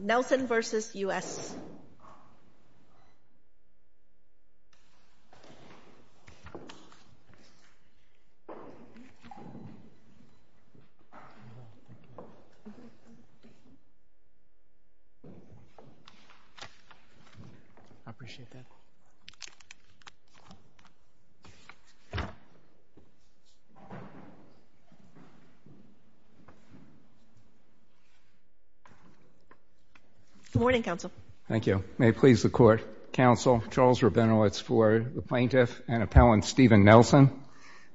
Nelson v. U.S. Good morning, counsel. Thank you. May it please the court, counsel, Charles Rabinowitz for the plaintiff and appellant Stephen Nelson.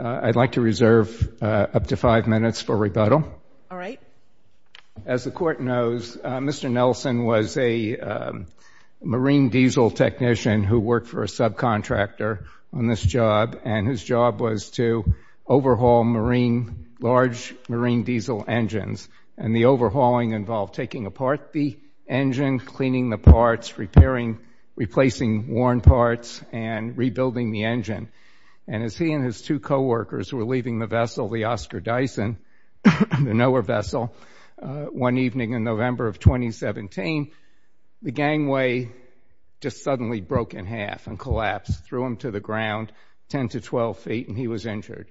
I'd like to reserve up to five minutes for rebuttal. All right. As the court knows, Mr. Nelson was a marine diesel technician who worked for a subcontractor on this job, and his job was to overhaul large marine diesel engines. And the overhauling involved taking apart the engine, cleaning the parts, repairing, replacing worn parts, and rebuilding the engine. And as he and his two co-workers were leaving the vessel, the Oscar Dyson, the NOAA vessel, one evening in November of 2017, the gangway just suddenly broke in half and collapsed, threw him to the ground 10 to 12 feet, and he was injured.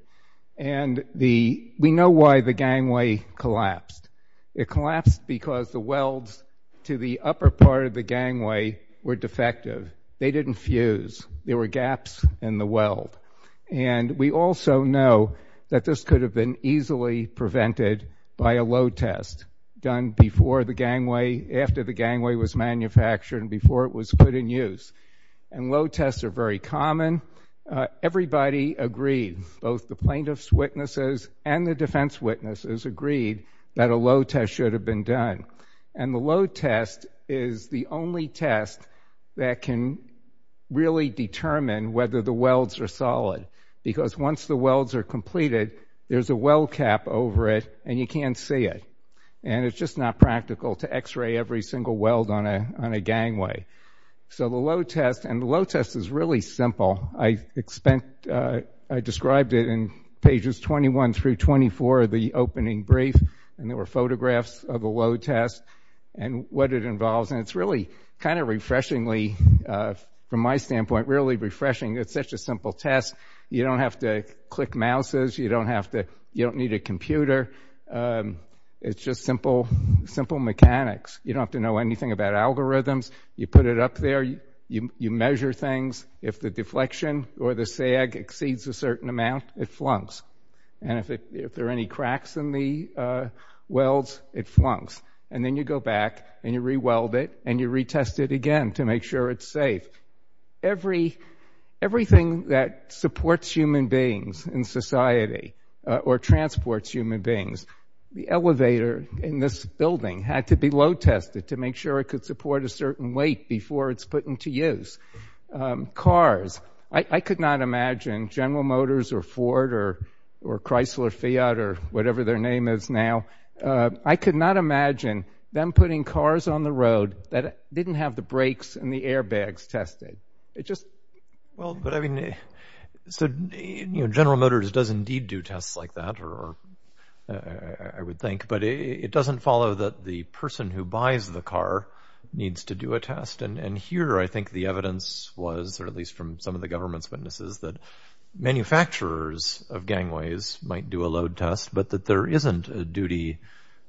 And we know why the gangway collapsed. It collapsed because the welds to the upper part of the gangway were defective. They didn't fuse. There were gaps in the weld. And we also know that this could have been easily prevented by a load test done before the gangway, after the gangway was manufactured and before it was put in use. And load tests are very common. Everybody agreed, both the plaintiff's witnesses and the defense witnesses, agreed that a load test should have been done. And the load test is the only test that can really determine whether the welds are solid because once the welds are completed, there's a weld cap over it, and you can't see it. And it's just not practical to X-ray every single weld on a gangway. So the load test, and the load test is really simple. I described it in pages 21 through 24 of the opening brief, and there were photographs of the load test and what it involves. And it's really kind of refreshingly, from my standpoint, really refreshing. It's such a simple test. You don't have to click mouses. You don't need a computer. It's just simple mechanics. You don't have to know anything about algorithms. You put it up there. You measure things. If the deflection or the sag exceeds a certain amount, it flunks. And if there are any cracks in the welds, it flunks. And then you go back and you re-weld it, and you retest it again to make sure it's safe. Everything that supports human beings in society or transports human beings, the elevator in this building had to be load tested to make sure it could support a certain weight before it's put into use. Cars. I could not imagine General Motors or Ford or Chrysler, Fiat, or whatever their name is now, I could not imagine them putting cars on the road that didn't have the brakes and the airbags tested. General Motors does indeed do tests like that, I would think, but it doesn't follow that the person who buys the car needs to do a test. And here I think the evidence was, or at least from some of the government's witnesses, that manufacturers of gangways might do a load test, but that there isn't a duty,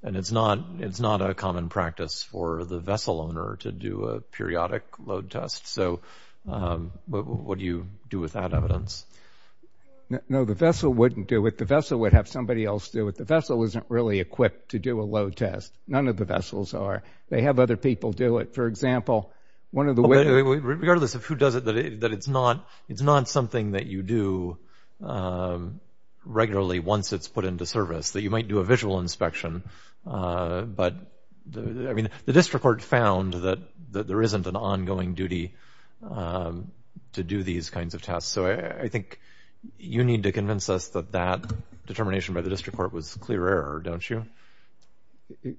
and it's not a common practice for the vessel owner to do a periodic load test. So what do you do with that evidence? No, the vessel wouldn't do it. The vessel would have somebody else do it. The vessel isn't really equipped to do a load test. None of the vessels are. They have other people do it. For example, one of the ways— Regardless of who does it, that it's not something that you do regularly once it's put into service, that you might do a visual inspection. But, I mean, the district court found that there isn't an ongoing duty to do these kinds of tests. So I think you need to convince us that that determination by the district court was clear error, don't you?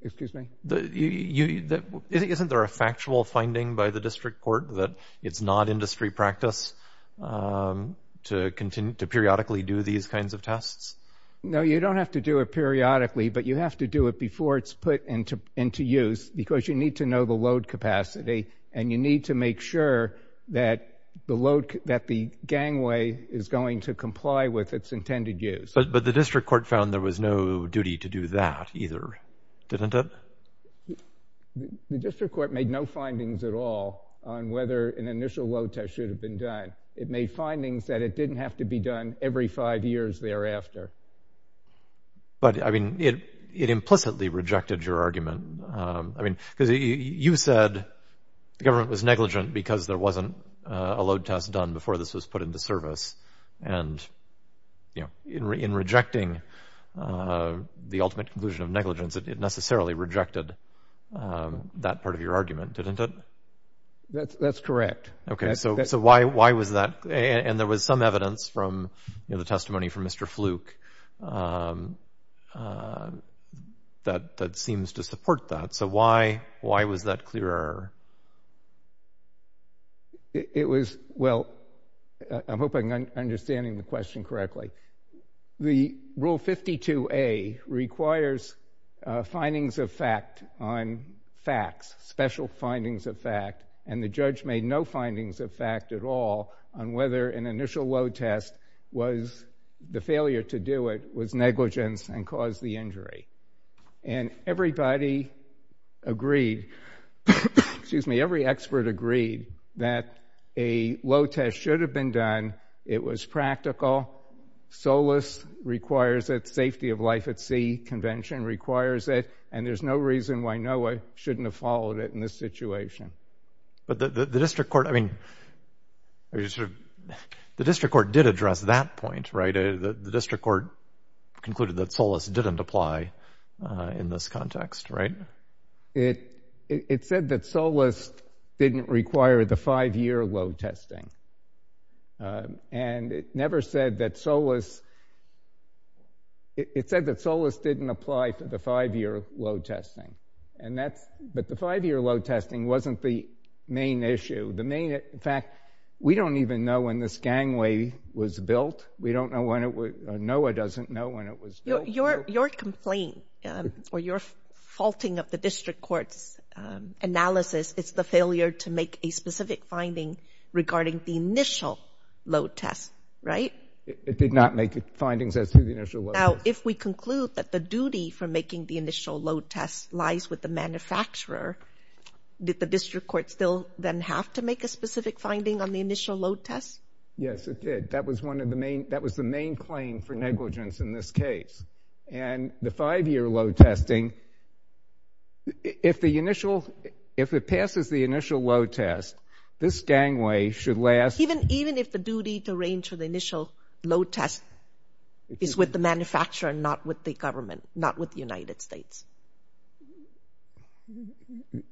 Excuse me? Isn't there a factual finding by the district court that it's not industry practice to periodically do these kinds of tests? No, you don't have to do it periodically, but you have to do it before it's put into use because you need to know the load capacity, and you need to make sure that the gangway is going to comply with its intended use. But the district court found there was no duty to do that either, didn't it? The district court made no findings at all on whether an initial load test should have been done. It made findings that it didn't have to be done every five years thereafter. But, I mean, it implicitly rejected your argument. I mean, because you said the government was negligent because there wasn't a load test done before this was put into service. And, you know, in rejecting the ultimate conclusion of negligence, it necessarily rejected that part of your argument, didn't it? That's correct. Okay, so why was that? And there was some evidence from the testimony from Mr. Fluke that seems to support that. So why was that clearer? It was, well, I'm hoping I'm understanding the question correctly. The Rule 52A requires findings of fact on facts, special findings of fact, and the judge made no findings of fact at all on whether an initial load test was, the failure to do it was negligence and caused the injury. And everybody agreed, excuse me, every expert agreed that a load test should have been done. It was practical. SOLAS requires it. Safety of Life at Sea Convention requires it. And there's no reason why NOAA shouldn't have followed it in this situation. But the district court, I mean, the district court did address that point, right? The district court concluded that SOLAS didn't apply in this context, right? It said that SOLAS didn't require the five-year load testing. And it never said that SOLAS, it said that SOLAS didn't apply to the five-year load testing. And that's, but the five-year load testing wasn't the main issue. The main, in fact, we don't even know when this gangway was built. We don't know when it was, NOAA doesn't know when it was built. Your complaint, or your faulting of the district court's analysis, it's the failure to make a specific finding regarding the initial load test, right? It did not make findings as to the initial load test. Now, if we conclude that the duty for making the initial load test lies with the manufacturer, did the district court still then have to make a specific finding on the initial load test? Yes, it did. That was one of the main, that was the main claim for negligence in this case. And the five-year load testing, if the initial, if it passes the initial load test, this gangway should last. Even if the duty to arrange for the initial load test is with the manufacturer and not with the government, not with the United States?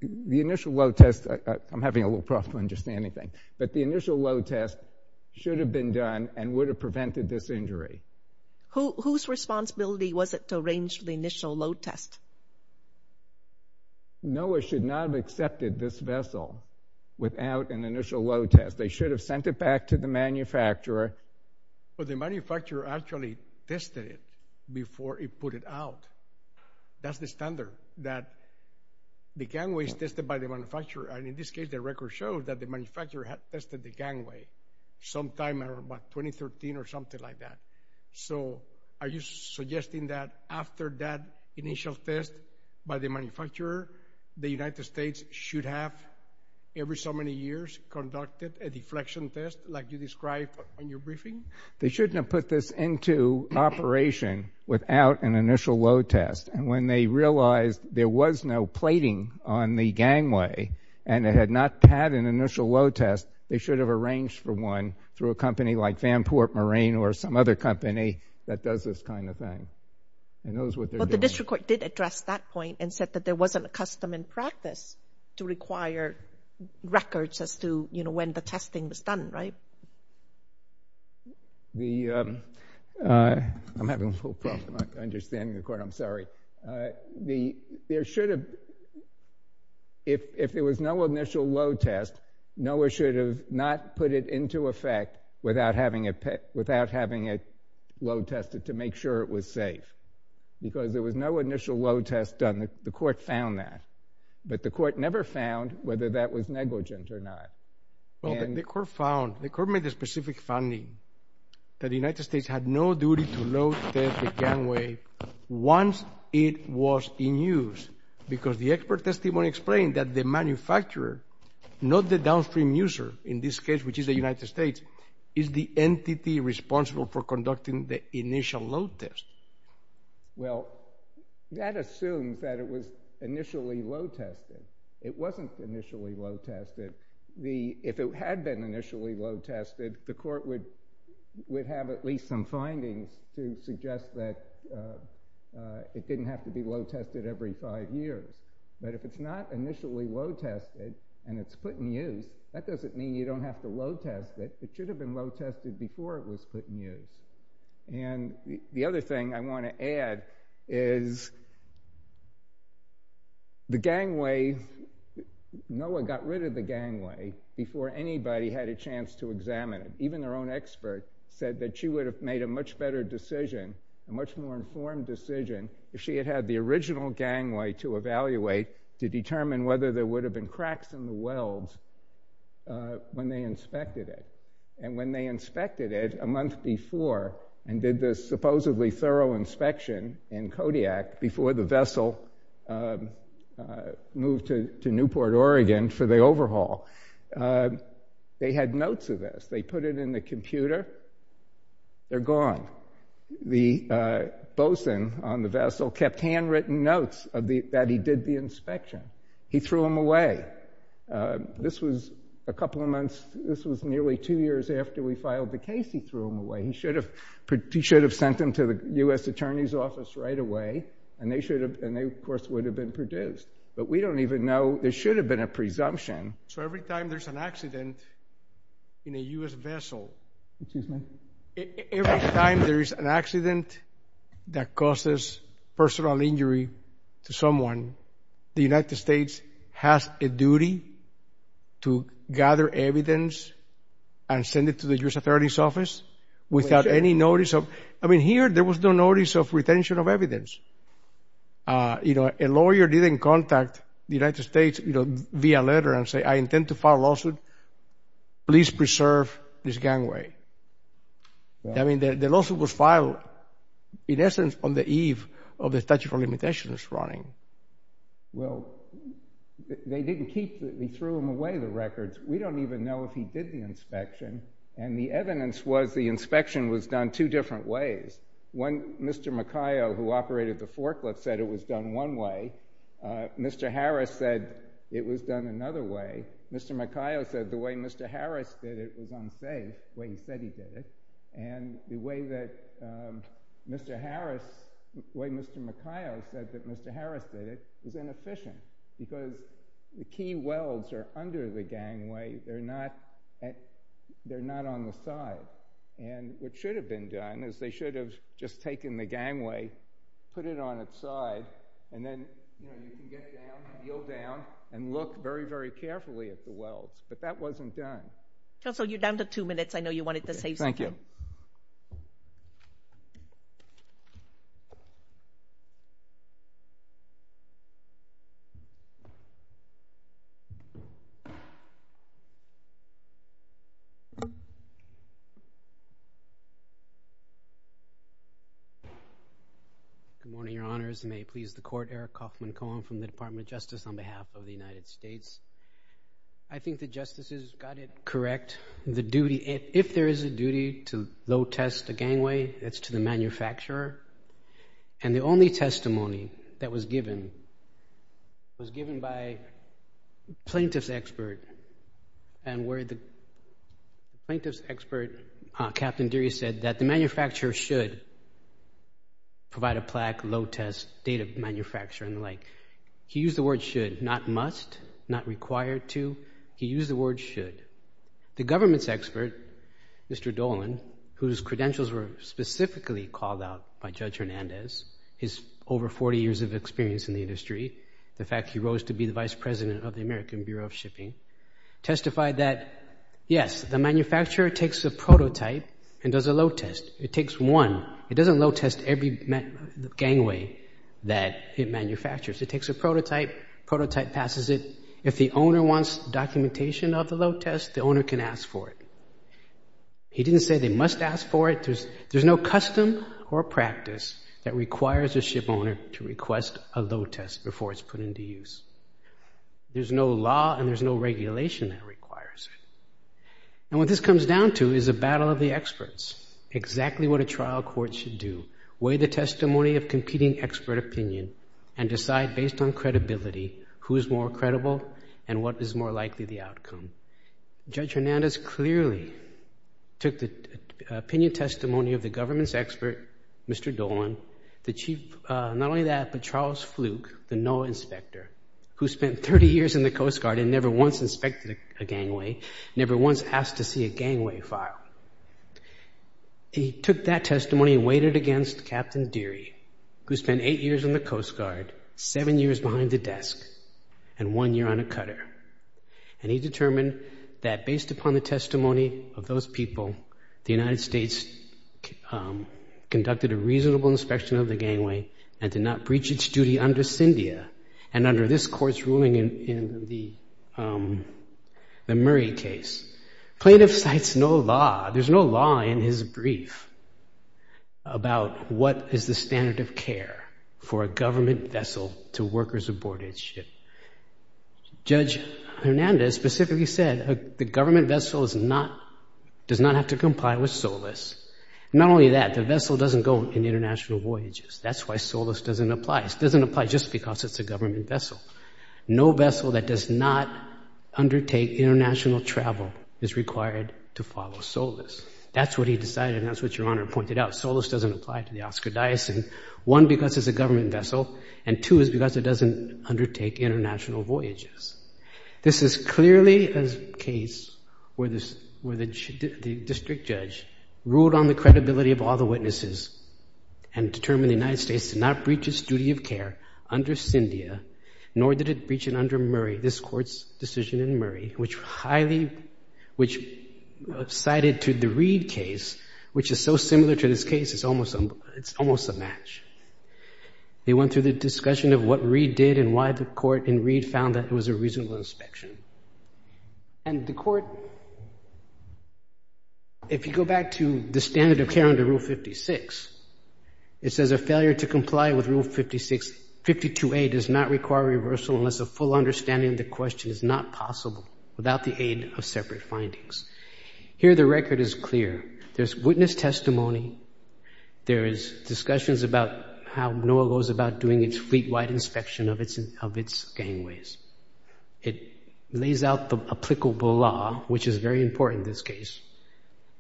The initial load test, I'm having a little problem understanding things, but the initial load test should have been done and would have prevented this injury. Whose responsibility was it to arrange the initial load test? NOAA should not have accepted this vessel without an initial load test. They should have sent it back to the manufacturer. But the manufacturer actually tested it before it put it out. That's the standard, that the gangway is tested by the manufacturer. And in this case, the record shows that the manufacturer had tested the gangway sometime around 2013 or something like that. So are you suggesting that after that initial test by the manufacturer, the United States should have, every so many years, conducted a deflection test like you described in your briefing? They shouldn't have put this into operation without an initial load test. And when they realized there was no plating on the gangway and it had not had an initial load test, they should have arranged for one through a company like Vanport Marine or some other company that does this kind of thing. It knows what they're doing. But the district court did address that point and said that there wasn't a custom in practice to require records as to, you know, when the testing was done, right? I'm having a little problem understanding the court, I'm sorry. There should have, if there was no initial load test, NOAA should have not put it into effect without having it load tested to make sure it was safe. Because there was no initial load test done. The court found that. But the court never found whether that was negligent or not. Well, the court found, the court made a specific finding that the United States had no duty to load test the gangway once it was in use. Because the expert testimony explained that the manufacturer, not the downstream user in this case, which is the United States, is the entity responsible for conducting the initial load test. Well, that assumes that it was initially load tested. It wasn't initially load tested. If it had been initially load tested, the court would have at least some findings to suggest that it didn't have to be load tested every five years. But if it's not initially load tested and it's put in use, that doesn't mean you don't have to load test it. It should have been load tested before it was put in use. And the other thing I want to add is the gangway, NOAA got rid of the gangway before anybody had a chance to examine it. Even their own expert said that she would have made a much better decision, a much more informed decision, if she had had the original gangway to evaluate to determine whether there would have been cracks in the welds when they inspected it. And when they inspected it a month before and did this supposedly thorough inspection in Kodiak, before the vessel moved to Newport, Oregon for the overhaul, they had notes of this. They put it in the computer, they're gone. The bosun on the vessel kept handwritten notes that he did the inspection. He threw them away. This was a couple of months, this was nearly two years after we filed the case, he threw them away. He should have sent them to the U.S. Attorney's Office right away and they, of course, would have been produced. But we don't even know, there should have been a presumption. So every time there's an accident in a U.S. vessel, every time there's an accident that causes personal injury to someone, the United States has a duty to gather evidence and send it to the U.S. Attorney's Office without any notice of, I mean, here there was no notice of retention of evidence. You know, a lawyer didn't contact the United States, you know, via letter and say, I intend to file a lawsuit, please preserve this gangway. I mean, the lawsuit was filed, in essence, on the eve of the statute of limitations running. Well, they didn't keep, they threw them away, the records. We don't even know if he did the inspection. And the evidence was the inspection was done two different ways. One, Mr. Macayo, who operated the forklift, said it was done one way. Mr. Harris said it was done another way. Mr. Macayo said the way Mr. Harris did it was unsafe, the way he said he did it. And the way that Mr. Harris, the way Mr. Macayo said that Mr. Harris did it was inefficient because the key welds are under the gangway, they're not on the side. And what should have been done is they should have just taken the gangway, put it on its side, and then, you know, you can get down, kneel down, and look very, very carefully at the welds. But that wasn't done. Counsel, you're down to two minutes. I know you wanted to save some time. Thank you. Good morning, Your Honors. May it please the Court, Eric Kaufman Cohen from the Department of Justice on behalf of the United States. I think the justices got it correct. If there is a duty to load test a gangway, it's to the manufacturer. And the only testimony that was given was given by a plaintiff's expert, and where the plaintiff's expert, Captain Deary, said that the manufacturer should provide a plaque, load test, date of manufacture, and the like. He used the word should, not must, not required to. He used the word should. The government's expert, Mr. Dolan, whose credentials were specifically called out by Judge Hernandez, his over 40 years of experience in the industry, the fact he rose to be the vice president of the American Bureau of Shipping, testified that, yes, the manufacturer takes a prototype and does a load test. It takes one. It doesn't load test every gangway that it manufactures. It takes a prototype. Prototype passes it. If the owner wants documentation of the load test, the owner can ask for it. He didn't say they must ask for it. There's no custom or practice that requires a ship owner to request a load test before it's put into use. There's no law and there's no regulation that requires it. And what this comes down to is a battle of the experts, exactly what a trial court should do, weigh the testimony of competing expert opinion and decide, based on credibility, who is more credible and what is more likely the outcome. Judge Hernandez clearly took the opinion testimony of the government's expert, Mr. Dolan, the chief, not only that, but Charles Fluke, the NOAA inspector, who spent 30 years in the Coast Guard and never once inspected a gangway, never once asked to see a gangway file. He took that testimony and weighed it against Captain Deary, who spent eight years in the Coast Guard, seven years behind a desk, and one year on a cutter. And he determined that based upon the testimony of those people, the United States conducted a reasonable inspection of the gangway and did not breach its duty under CINDIA and under this court's ruling in the Murray case. Plaintiff cites no law. There's no law in his brief about what is the standard of care for a government vessel to workers aboard its ship. Judge Hernandez specifically said the government vessel does not have to comply with SOLAS. Not only that, the vessel doesn't go on international voyages. That's why SOLAS doesn't apply. It doesn't apply just because it's a government vessel. No vessel that does not undertake international travel is required to follow SOLAS. That's what he decided, and that's what Your Honor pointed out. SOLAS doesn't apply to the Oscar Dyson, one, because it's a government vessel, and two is because it doesn't undertake international voyages. This is clearly a case where the district judge ruled on the credibility of all the witnesses and determined the United States did not breach its duty of care under CINDIA, nor did it breach it under Murray, this court's decision in Murray, which cited to the Reed case, which is so similar to this case, it's almost a match. They went through the discussion of what Reed did and why the court in Reed found that it was a reasonable inspection. And the court, if you go back to the standard of care under Rule 56, it says a failure to comply with Rule 52A does not require reversal unless a full understanding of the question is not possible without the aid of separate findings. Here the record is clear. There's witness testimony. There is discussions about how NOAA goes about doing its fleet-wide inspection of its gangways. It lays out the applicable law, which is very important in this case,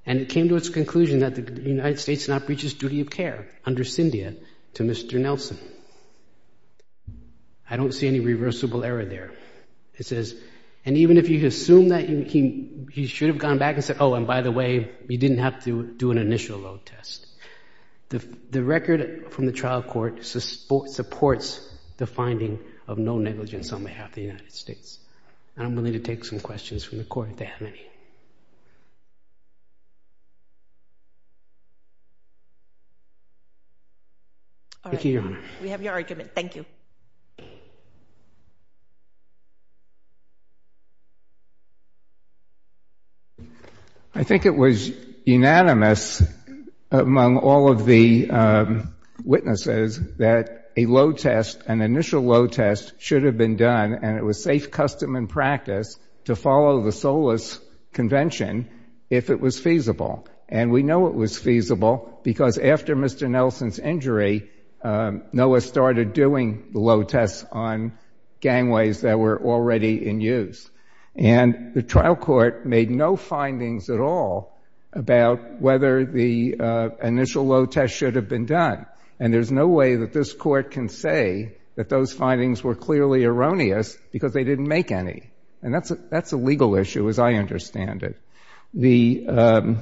and it came to its conclusion that the United States did not breach its duty of care under CINDIA to Mr. Nelson. I don't see any reversible error there. It says, and even if you assume that he should have gone back and said, oh, and by the way, you didn't have to do an initial load test. The record from the trial court supports the finding of no negligence on behalf of the United States. And I'm willing to take some questions from the court if they have any. Thank you, Your Honor. We have your argument. Thank you. I think it was unanimous among all of the witnesses that a load test, an initial load test should have been done, and it was safe, custom, and practice to follow the SOLAS Convention if it was feasible. And we know it was feasible because after Mr. Nelson's injury, Noah started doing the load tests on gangways that were already in use. And the trial court made no findings at all about whether the initial load test should have been done. And there's no way that this court can say that those findings were clearly erroneous because they didn't make any. And that's a legal issue, as I understand it. And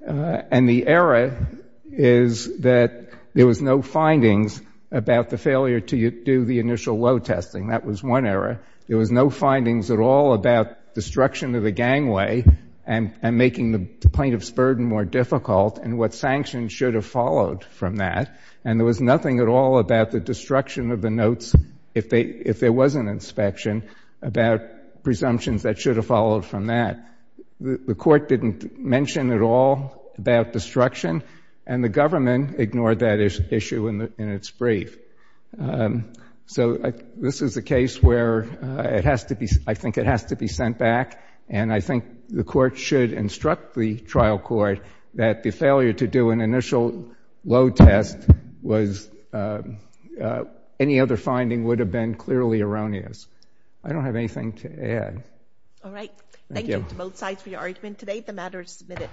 the error is that there was no findings about the failure to do the initial load testing. That was one error. There was no findings at all about destruction of the gangway and making the plaintiff's burden more difficult and what sanctions should have followed from that. And there was nothing at all about the destruction of the notes, if there was an inspection, about presumptions that should have followed from that. The court didn't mention at all about destruction, and the government ignored that issue in its brief. So this is a case where I think it has to be sent back, and I think the court should instruct the trial court that the failure to do an initial load test was any other finding would have been clearly erroneous. I don't have anything to add. All right. Thank you to both sides for your argument today. The matter is submitted.